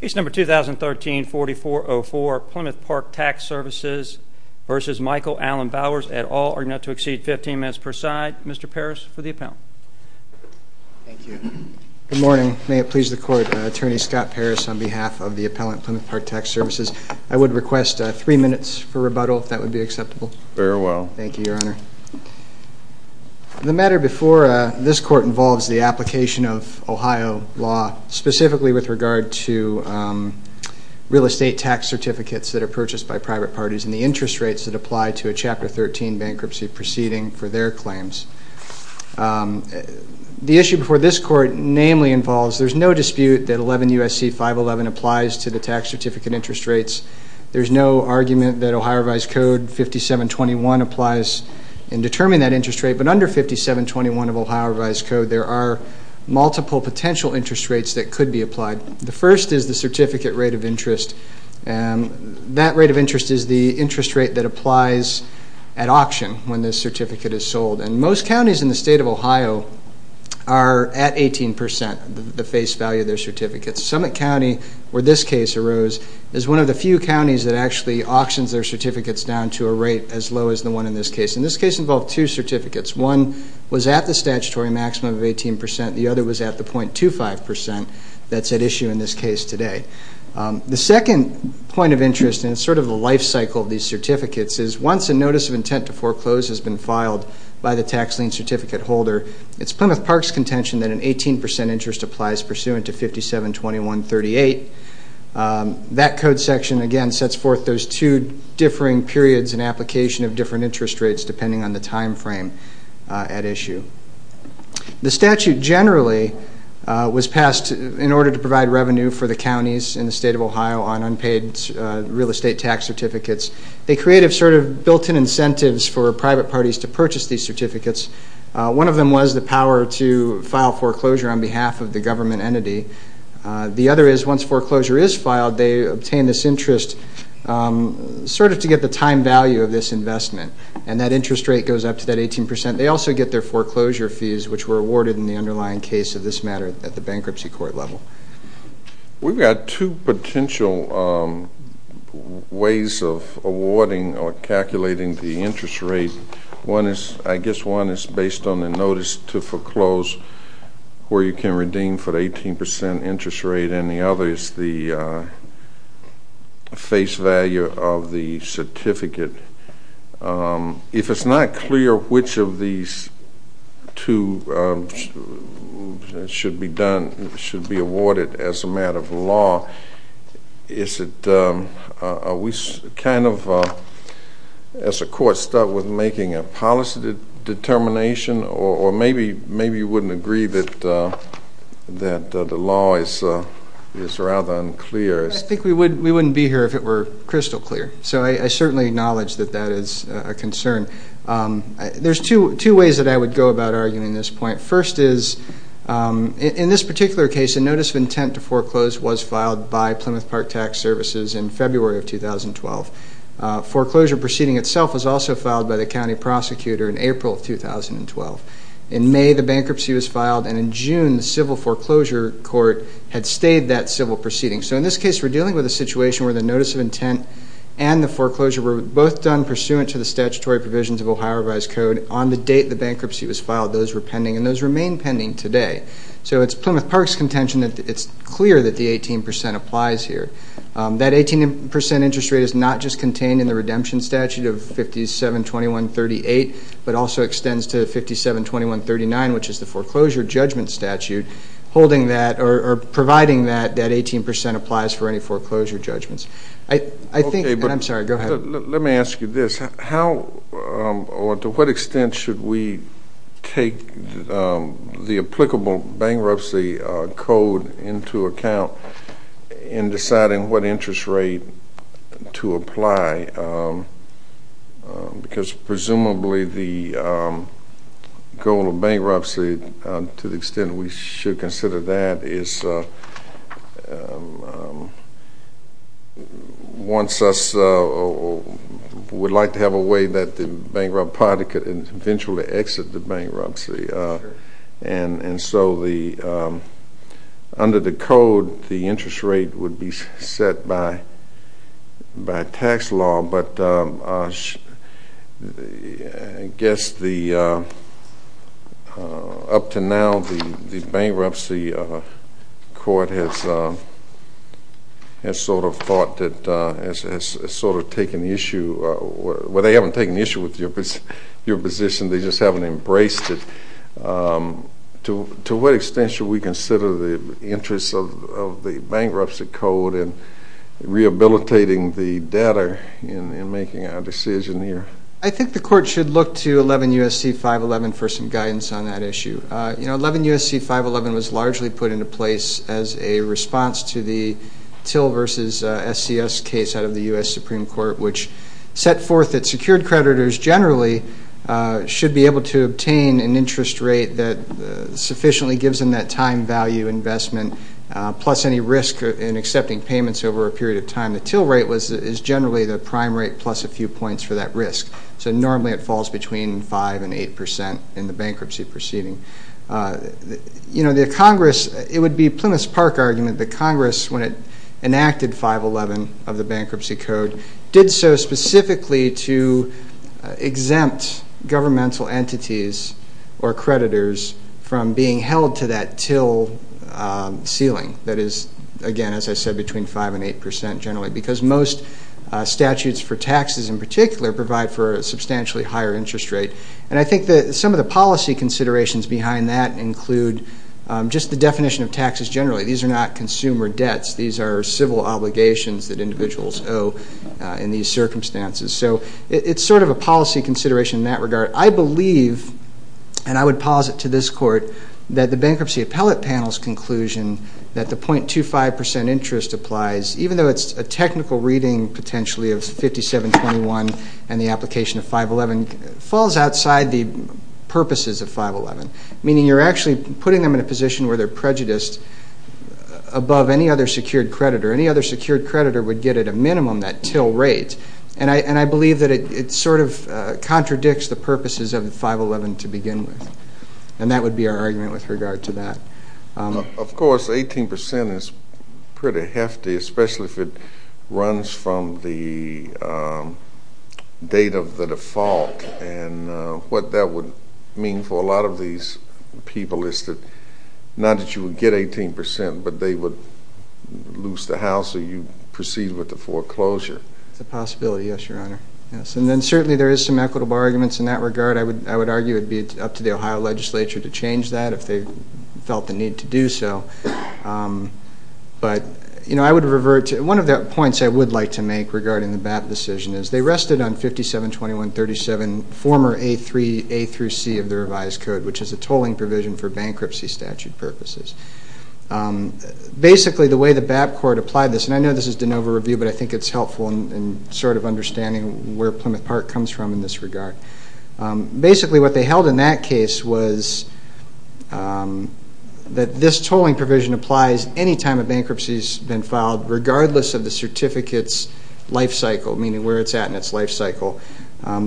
Case number 2013-4404, Plymouth Park Tax Services v. Michael Allen Bowers, et al., are now to exceed 15 minutes per side. Mr. Parris for the appellant. Good morning. May it please the Court, Attorney Scott Parris on behalf of the appellant, Plymouth Park Tax Services. I would request three minutes for rebuttal if that would be acceptable. Very well. Thank you, Your Honor. The matter before this Court is the application of Ohio law, specifically with regard to real estate tax certificates that are purchased by private parties and the interest rates that apply to a Chapter 13 bankruptcy proceeding for their claims. The issue before this Court namely involves there's no dispute that 11 U.S.C. 511 applies to the tax certificate interest rates. There's no argument that Ohio Revised Code 5721 applies in determining that interest rate, but under 5721 of multiple potential interest rates that could be applied. The first is the certificate rate of interest, and that rate of interest is the interest rate that applies at auction when this certificate is sold, and most counties in the state of Ohio are at 18% the face value of their certificates. Summit County, where this case arose, is one of the few counties that actually auctions their certificates down to a rate as low as the one in this case. In this case involved two certificates. One was at the statutory maximum of 18%, the other was at the 0.25% that's at issue in this case today. The second point of interest, and it's sort of a lifecycle of these certificates, is once a notice of intent to foreclose has been filed by the tax lien certificate holder, it's Plymouth Park's contention that an 18% interest applies pursuant to 5721 38. That code section again sets forth those two differing periods and application of different interest rates depending on the timeframe at issue. The statute generally was passed in order to provide revenue for the counties in the state of Ohio on unpaid real estate tax certificates. They created sort of built in incentives for private parties to purchase these certificates. One of them was the power to file foreclosure on behalf of the government entity. The other is once foreclosure is filed, they obtain this interest sort of to get the time value of this investment and that interest rate goes up to that 18%. They also get their foreclosure fees which were awarded in the underlying case of this matter at the bankruptcy court level. We've got two potential ways of awarding or calculating the interest rate. One is, I guess, one is based on the notice to foreclose where you can redeem for 18% interest rate and the other is the face value of the certificate. If it's not clear which of these two should be done, should be awarded as a matter of law, is it, are we kind of, as a court, stuck with making a policy determination or maybe you wouldn't agree that the law is rather unclear? I think we wouldn't be here if it were crystal clear. So I certainly acknowledge that that is a concern. There's two ways that I would go about arguing this point. First is, in this particular case, a notice of intent to foreclose was filed by Plymouth Park Tax Services in February of 2012. Foreclosure proceeding itself was also filed by the county prosecutor in April of 2012. In May, the bankruptcy was filed and in June, the civil foreclosure court had stayed that civil proceeding. So in this case, we're dealing with a situation where the notice of intent and the foreclosure were both done pursuant to the statutory provisions of Ohio Revised Code. On the date the bankruptcy was filed, those were pending and those remain pending today. So it's Plymouth Park's contention that it's clear that the 18% applies here. That 18% interest rate is not just contained in the redemption statute of 572138, but also extends to 572139, which is the foreclosure judgment statute, holding that or providing that that 18% applies for any foreclosure judgments. I think, I'm sorry, go ahead. Let me ask you this. How or to what extent should we take the applicable bankruptcy code into account in deciding what interest rate to apply? Because presumably the goal of bankruptcy, to the extent we should consider that, is once us would like to have a way that the bankrupt party could eventually exit the bankruptcy. And so the, under the code, the interest rate would be set by tax law. But I guess the, up to now, the bankruptcy court has sort of thought that, has sort of taken issue, well they haven't taken issue with your position, they just haven't embraced it. To what extent should we take the applicable bankruptcy code and rehabilitating the debtor in making our decision here? I think the court should look to 11 U.S.C. 511 for some guidance on that issue. You know, 11 U.S.C. 511 was largely put into place as a response to the Till versus SCS case out of the U.S. Supreme Court, which set forth that secured creditors generally should be able to obtain an interest rate that period of time. The Till rate was, is generally the prime rate plus a few points for that risk. So normally it falls between 5 and 8 percent in the bankruptcy proceeding. You know, the Congress, it would be Plymouth's Park argument that Congress, when it enacted 511 of the bankruptcy code, did so specifically to exempt governmental entities or creditors from being held to that Till ceiling. That is, again, as I said, between 5 and 8 percent generally because most statutes for taxes in particular provide for a substantially higher interest rate. And I think that some of the policy considerations behind that include just the definition of taxes generally. These are not consumer debts. These are civil obligations that individuals owe in these circumstances. So it's sort of a policy consideration in that regard. I believe, and I would posit to this Court, that the bankruptcy appellate panel's conclusion that the .25 percent interest applies, even though it's a technical reading potentially of 5721 and the application of 511, falls outside the purposes of 511. Meaning you're actually putting them in a position where they're prejudiced above any other secured creditor. Any other secured creditor would get at a minimum that Till rate. And I, and I believe that it sort of falls outside the purposes of the 511 to begin with. And that would be our argument with regard to that. Of course, 18 percent is pretty hefty, especially if it runs from the date of the default. And what that would mean for a lot of these people is that, not that you would get 18 percent, but they would lose the house or you proceed with the foreclosure. It's a possibility, yes, Your Honor. Yes, and then there is some equitable arguments in that regard. I would, I would argue it would be up to the Ohio legislature to change that if they felt the need to do so. But, you know, I would revert to, one of the points I would like to make regarding the BAP decision is they rested on 5721.37, former A3, A through C of the revised code, which is a tolling provision for bankruptcy statute purposes. Basically, the way the BAP Court applied this, and I know this is DeNova Review, but I think it's helpful in sort of understanding where Plymouth Park comes from in this regard. Basically, what they held in that case was that this tolling provision applies any time a bankruptcy has been filed, regardless of the certificate's life cycle, meaning where it's at in its life cycle.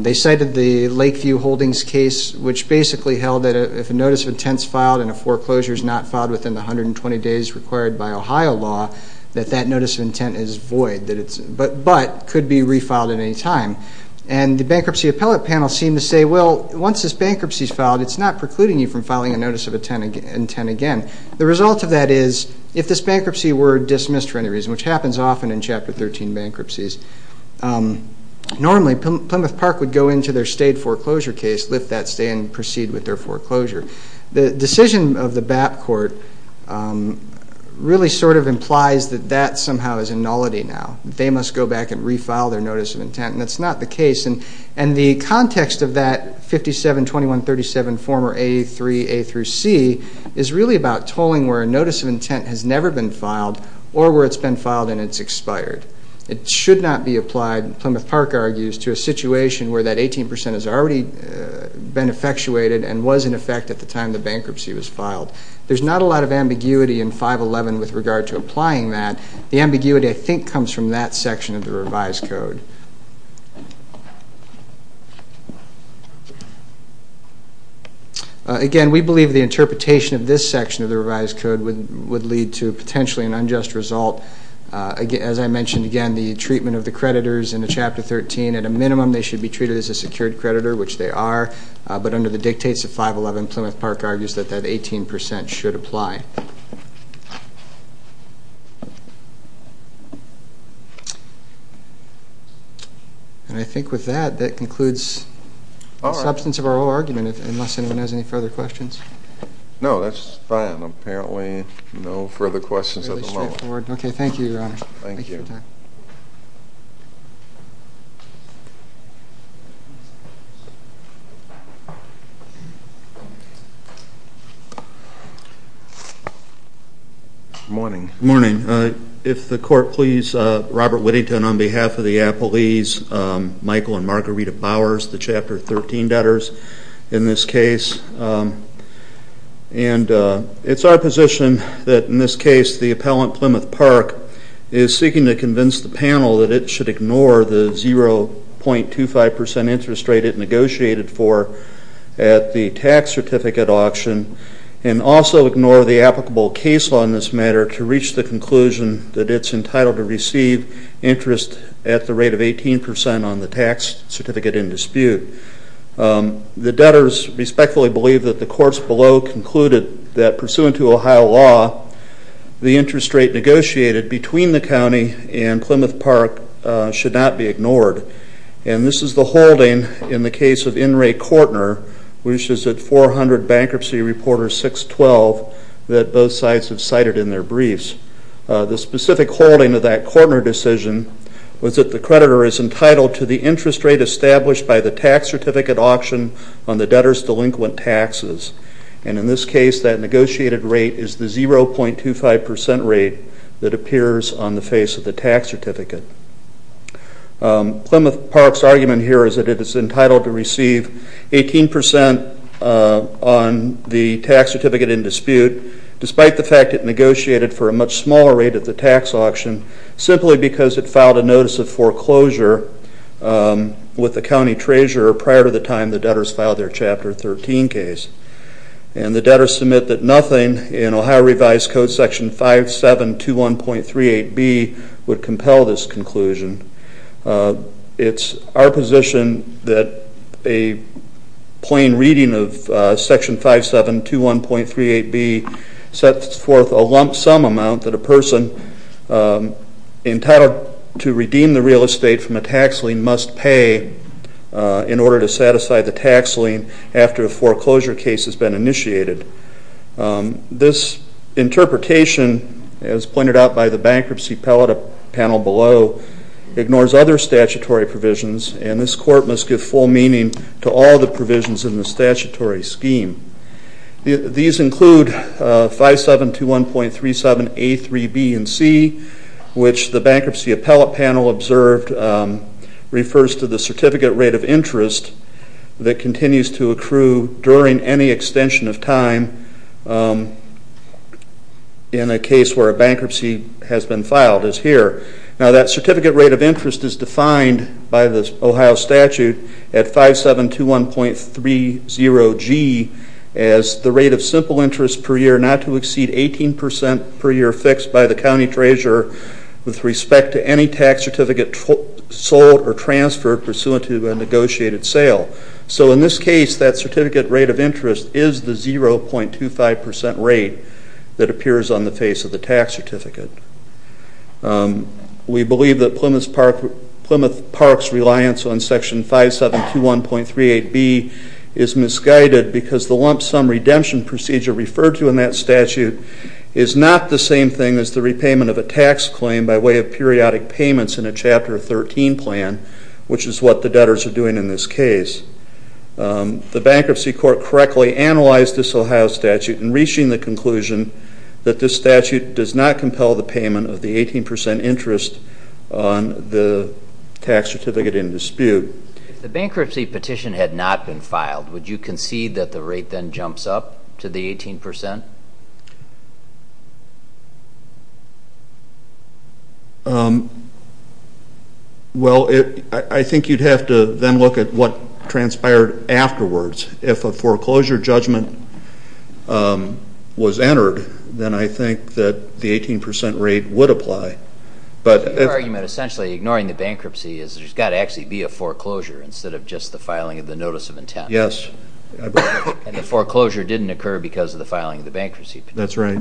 They cited the Lakeview Holdings case, which basically held that if a notice of intent is filed and a foreclosure is not filed within the 120 days required by Ohio law, that that notice of intent is void, that it's, but, but could be refiled at any time. And the bankruptcy appellate panel seemed to say, well, once this bankruptcy's filed, it's not precluding you from filing a notice of intent again. The result of that is, if this bankruptcy were dismissed for any reason, which happens often in Chapter 13 bankruptcies, normally Plymouth Park would go into their stayed foreclosure case, lift that stay, and proceed with their foreclosure. The decision of the BAP Court really sort of implies that that somehow is a nullity now. They must go back and file a notice of intent, and that's not the case. And the context of that 572137 former A3, A through C, is really about tolling where a notice of intent has never been filed, or where it's been filed and it's expired. It should not be applied, Plymouth Park argues, to a situation where that 18 percent has already been effectuated and was in effect at the time the bankruptcy was filed. There's not a lot of ambiguity in 511 with regard to applying that. The Again, we believe the interpretation of this section of the revised code would would lead to potentially an unjust result. As I mentioned again, the treatment of the creditors in the Chapter 13, at a minimum they should be treated as a secured creditor, which they are, but under the dictates of 511, Plymouth Park argues that that 18 percent should apply. And I think with that, that concludes the substance of our argument, unless anyone has any further questions. No, that's fine. Apparently no further questions at the moment. Okay, thank you, Your Honor. Thank you. Morning. Morning. If the court please, Robert Whittington on behalf of the appellees, Michael and Margarita Bowers, the Chapter 13 debtors in this case, and it's our position that in this case the appellant, Plymouth Park, is seeking to convince the panel that it should ignore the 0.25 percent interest rate it auction and also ignore the applicable case law in this matter to reach the conclusion that it's entitled to receive interest at the rate of 18 percent on the tax certificate in dispute. The debtors respectfully believe that the courts below concluded that pursuant to Ohio law, the interest rate negotiated between the county and Plymouth Park should not be ignored. And this is the bankruptcy reporter 612 that both sides have cited in their briefs. The specific holding of that court decision was that the creditor is entitled to the interest rate established by the tax certificate auction on the debtors' delinquent taxes. And in this case that negotiated rate is the 0.25 percent rate that appears on the face of the tax certificate. Plymouth Park's argument here is that it is 18 percent on the tax certificate in dispute despite the fact it negotiated for a much smaller rate at the tax auction simply because it filed a notice of foreclosure with the county treasurer prior to the time the debtors filed their Chapter 13 case. And the debtors submit that nothing in Ohio revised code section 5721.38B would compel this conclusion. It's our position that a plain reading of section 5721.38B sets forth a lump sum amount that a person entitled to redeem the real estate from a tax lien must pay in order to satisfy the tax lien after a foreclosure case has been initiated. This interpretation, as pointed out by the bankruptcy panel below, ignores other statutory provisions and this court must give full meaning to all the provisions in the statutory scheme. These include 5721.37A, 3B, and C, which the bankruptcy appellate panel observed refers to the certificate rate of interest that continues to accrue during any extension of time in a case where a bankruptcy has been filed is here. Now that certificate rate of interest is defined by the Ohio statute at 5721.30G as the rate of simple interest per year not to exceed 18 percent per year fixed by the county treasurer with respect to any tax certificate sold or transferred pursuant to a negotiated sale. So in this case that certificate rate of interest is the 0.25 percent rate that appears on the face of the tax certificate. We believe that Plymouth Park's reliance on section 5721.38B is misguided because the lump sum redemption procedure referred to in that statute is not the same thing as the repayment of a tax claim by way of periodic payments in a Chapter 13 plan, which is what the debtors are doing in this case. The bankruptcy court correctly analyzed this Ohio statute in reaching the conclusion that this statute does not compel the payment of the 18 percent interest on the tax certificate in dispute. If the bankruptcy petition had not been filed, would you concede that the rate then jumps up to the 18 percent? Well, I think you'd have to then look at what transpired afterwards. If a bankruptcy was entered, then I think that the 18 percent rate would apply, but... Your argument essentially, ignoring the bankruptcy, is there's got to actually be a foreclosure instead of just the filing of the notice of intent. Yes. And the foreclosure didn't occur because of the filing of the bankruptcy. That's right.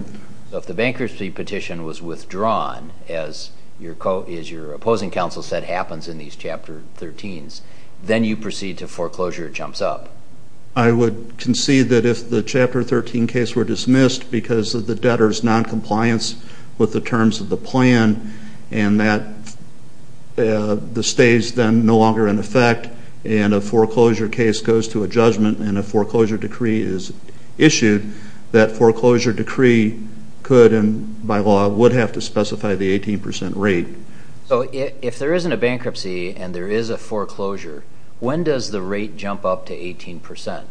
So if the bankruptcy petition was withdrawn, as your opposing counsel said happens in these Chapter 13's, then you proceed to foreclosure jumps up. I would concede that if the Chapter 13 case were dismissed because of the debtors non-compliance with the terms of the plan, and that the stays then no longer in effect, and a foreclosure case goes to a judgment and a foreclosure decree is issued, that foreclosure decree could and by law would have to specify the 18 percent rate. So if there isn't a bankruptcy and there is a foreclosure, when does the rate jump up to 18 percent?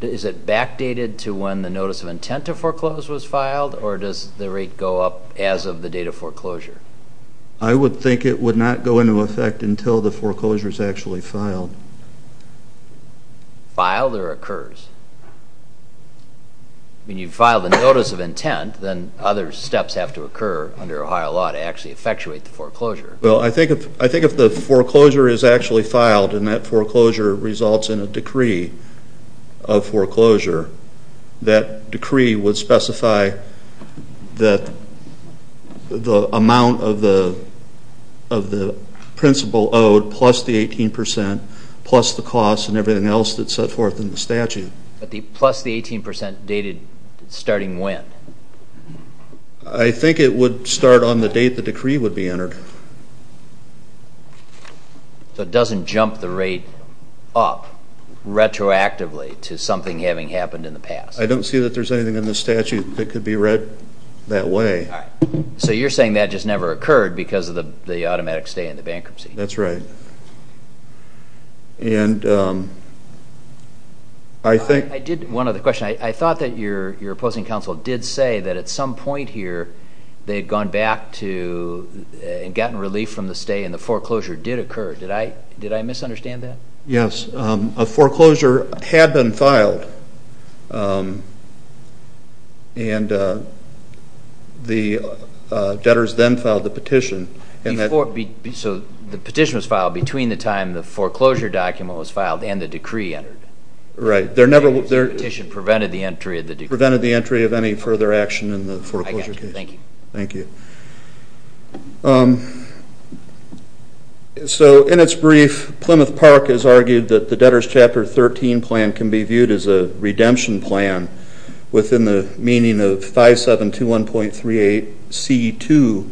Is it backdated to when the notice of intent to foreclose was filed, or does the rate go up as of the date of foreclosure? I would think it would not go into effect until the foreclosure is actually filed. Filed or occurs? I mean, you've filed a notice of intent, then other steps have to occur under Ohio law to actually effectuate the foreclosure. Well, I think if the foreclosure is actually filed and that foreclosure results in a decree of foreclosure, that decree would specify that the amount of the principal owed plus the 18 percent, plus the costs and everything else that's set forth in the statute. But the plus the 18 percent dated starting when? I think it would start on the date the decree would be entered. So it doesn't jump the rate up retroactively to something having happened in the past? I don't see that there's anything in the statute that could be read that way. So you're saying that just never occurred because of the automatic stay in the bankruptcy? That's right. And I think... I did one other question. I thought that your opposing counsel did say that at some point here they had gone back to and gotten relief from the stay and the foreclosure did occur. Did I misunderstand that? Yes, a foreclosure had been filed and the debtors then filed the petition. So the petition was filed between the time the foreclosure document was filed and the decree entered? Right, there never was a petition that prevented the entry of the decree. Prevented the entry of any further action in the foreclosure case. Thank you. Thank you. So in its brief, Plymouth Park has argued that the debtors chapter 13 plan can be viewed as a redemption plan within the meaning of 5721.38C2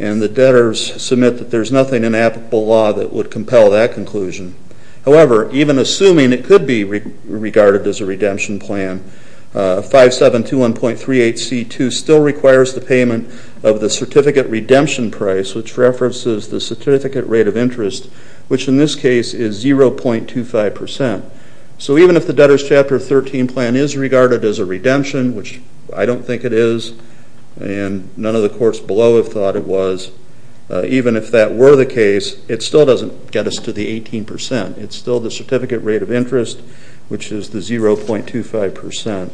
and the debtors submit that there's nothing in applicable law that would compel that conclusion. However, even assuming it could be regarded as a redemption plan, 5721.38C2 still requires the payment of the certificate redemption price, which references the certificate rate of interest, which in this case is 0.25%. So even if the debtors chapter 13 plan is regarded as a redemption, which I don't think it is, and none of the courts below have thought it was, even if that were the case, it still doesn't get us to the 18%. It's still the certificate rate of interest, which is the 0.25%.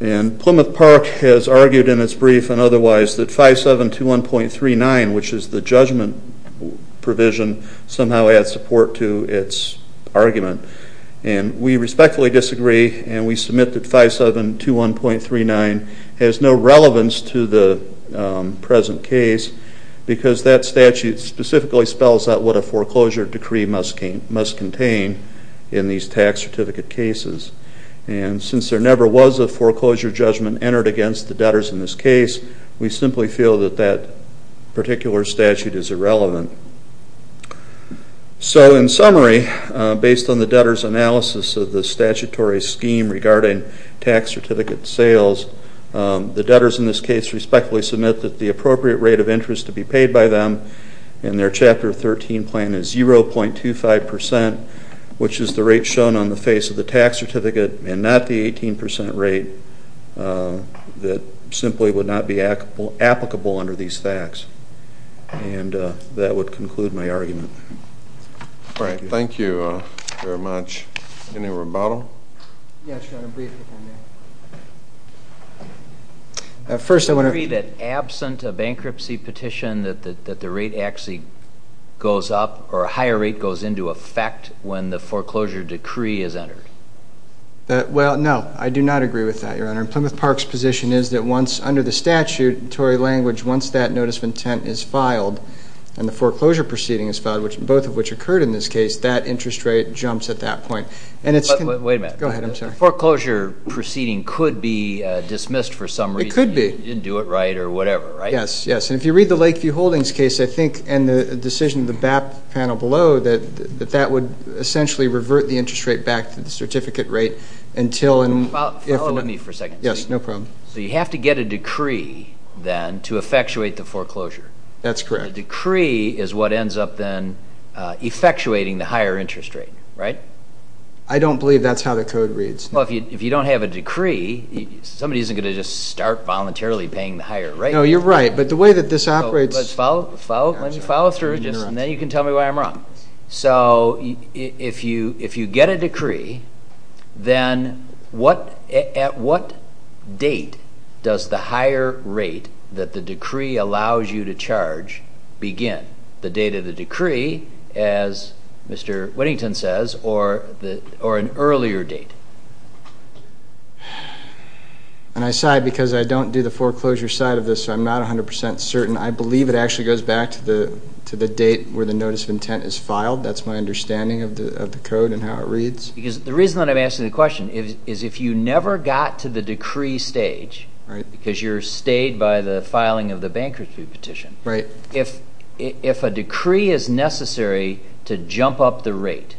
And Plymouth Park has argued in its brief and otherwise that 5721.39C2, which is the judgment provision, somehow adds support to its argument. And we respectfully disagree and we submit that 5721.39C2 has no relevance to the present case because that statute specifically spells out what a foreclosure decree must contain in these tax certificate cases. And since there never was a foreclosure judgment entered against the debtors in this case, we simply feel that that particular statute is irrelevant. So in summary, based on the debtors' analysis of the statutory scheme regarding tax certificate sales, the debtors in this case respectfully submit that the appropriate rate of interest to be paid by them in their chapter 13 plan is 0.25%, which is the rate shown on the face of the tax certificate and not the 18% rate that simply would not be applicable under these facts. And that would conclude my argument. All right, thank you very much. Any rebuttal? First, I want to... Do you agree that absent a bankruptcy petition that the rate actually goes up or a higher rate goes into effect when the foreclosure decree is entered? Well, no, I do not agree with that, Your Honor. And Plymouth Park's position is that once, under the statutory language, once that notice of intent is filed and the foreclosure proceeding is filed, both of which occurred in this case, that interest rate jumps at that point. And it's... Wait a minute. Go ahead, I'm sorry. Foreclosure proceeding could be dismissed for some reason. It could be. You didn't do it right or whatever, right? Yes, yes. And if you read the Lakeview Holdings case, I think, and the decision of the BAP panel below, that that would essentially revert the interest rate back to the certificate rate until... Well, follow me for a second. Yes, no problem. So you have to get a decree then to effectuate the foreclosure. That's correct. The decree is what ends up then I don't believe that's how the code reads. Well, if you don't have a decree, somebody isn't going to just start voluntarily paying the higher rate. No, you're right, but the way that this operates... Let me follow through, and then you can tell me why I'm wrong. So if you get a decree, then at what date does the higher rate that the decree allows you to charge begin? The date of the decree, as Mr. Whittington says, or an earlier date? And I sigh because I don't do the foreclosure side of this, so I'm not a hundred percent certain. I believe it actually goes back to the to the date where the notice of intent is filed. That's my understanding of the code and how it reads. Because the reason that I'm asking the question is if you never got to the decree stage, because you're stayed by the filing of the bankruptcy petition, if a decree is necessary to jump up the rate,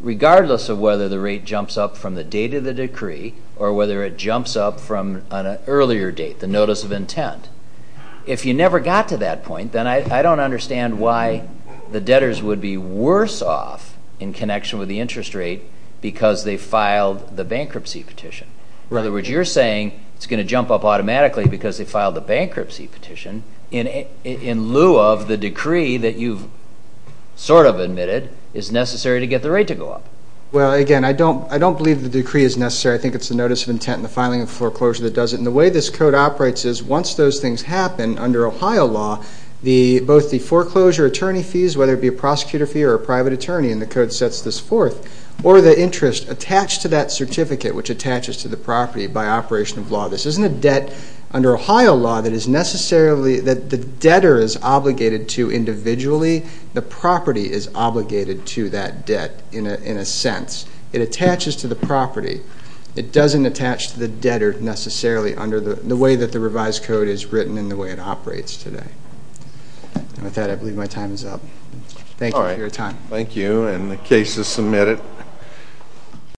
regardless of whether the rate jumps up from the date of the decree or whether it jumps up from an earlier date, the notice of intent, if you never got to that point, then I don't understand why the debtors would be worse off in connection with the interest rate because they filed the bankruptcy petition. In other words, you're saying it's going to jump up automatically because they filed the bankruptcy petition in in lieu of the decree that you've sort of admitted is necessary to get the rate to go up. Well again, I don't I don't believe the decree is necessary. I think it's the notice of intent and the filing of foreclosure that does it. And the way this code operates is once those things happen under Ohio law, both the foreclosure attorney fees, whether it be a prosecutor fee or a private attorney, and the code sets this forth, or the interest attached to that certificate which attaches to the under Ohio law that is necessarily that the debtor is obligated to individually, the property is obligated to that debt in a sense. It attaches to the property. It doesn't attach to the debtor necessarily under the way that the revised code is written in the way it operates today. With that, I believe my time is up. Thank you for your time. Thank you, and the case is submitted.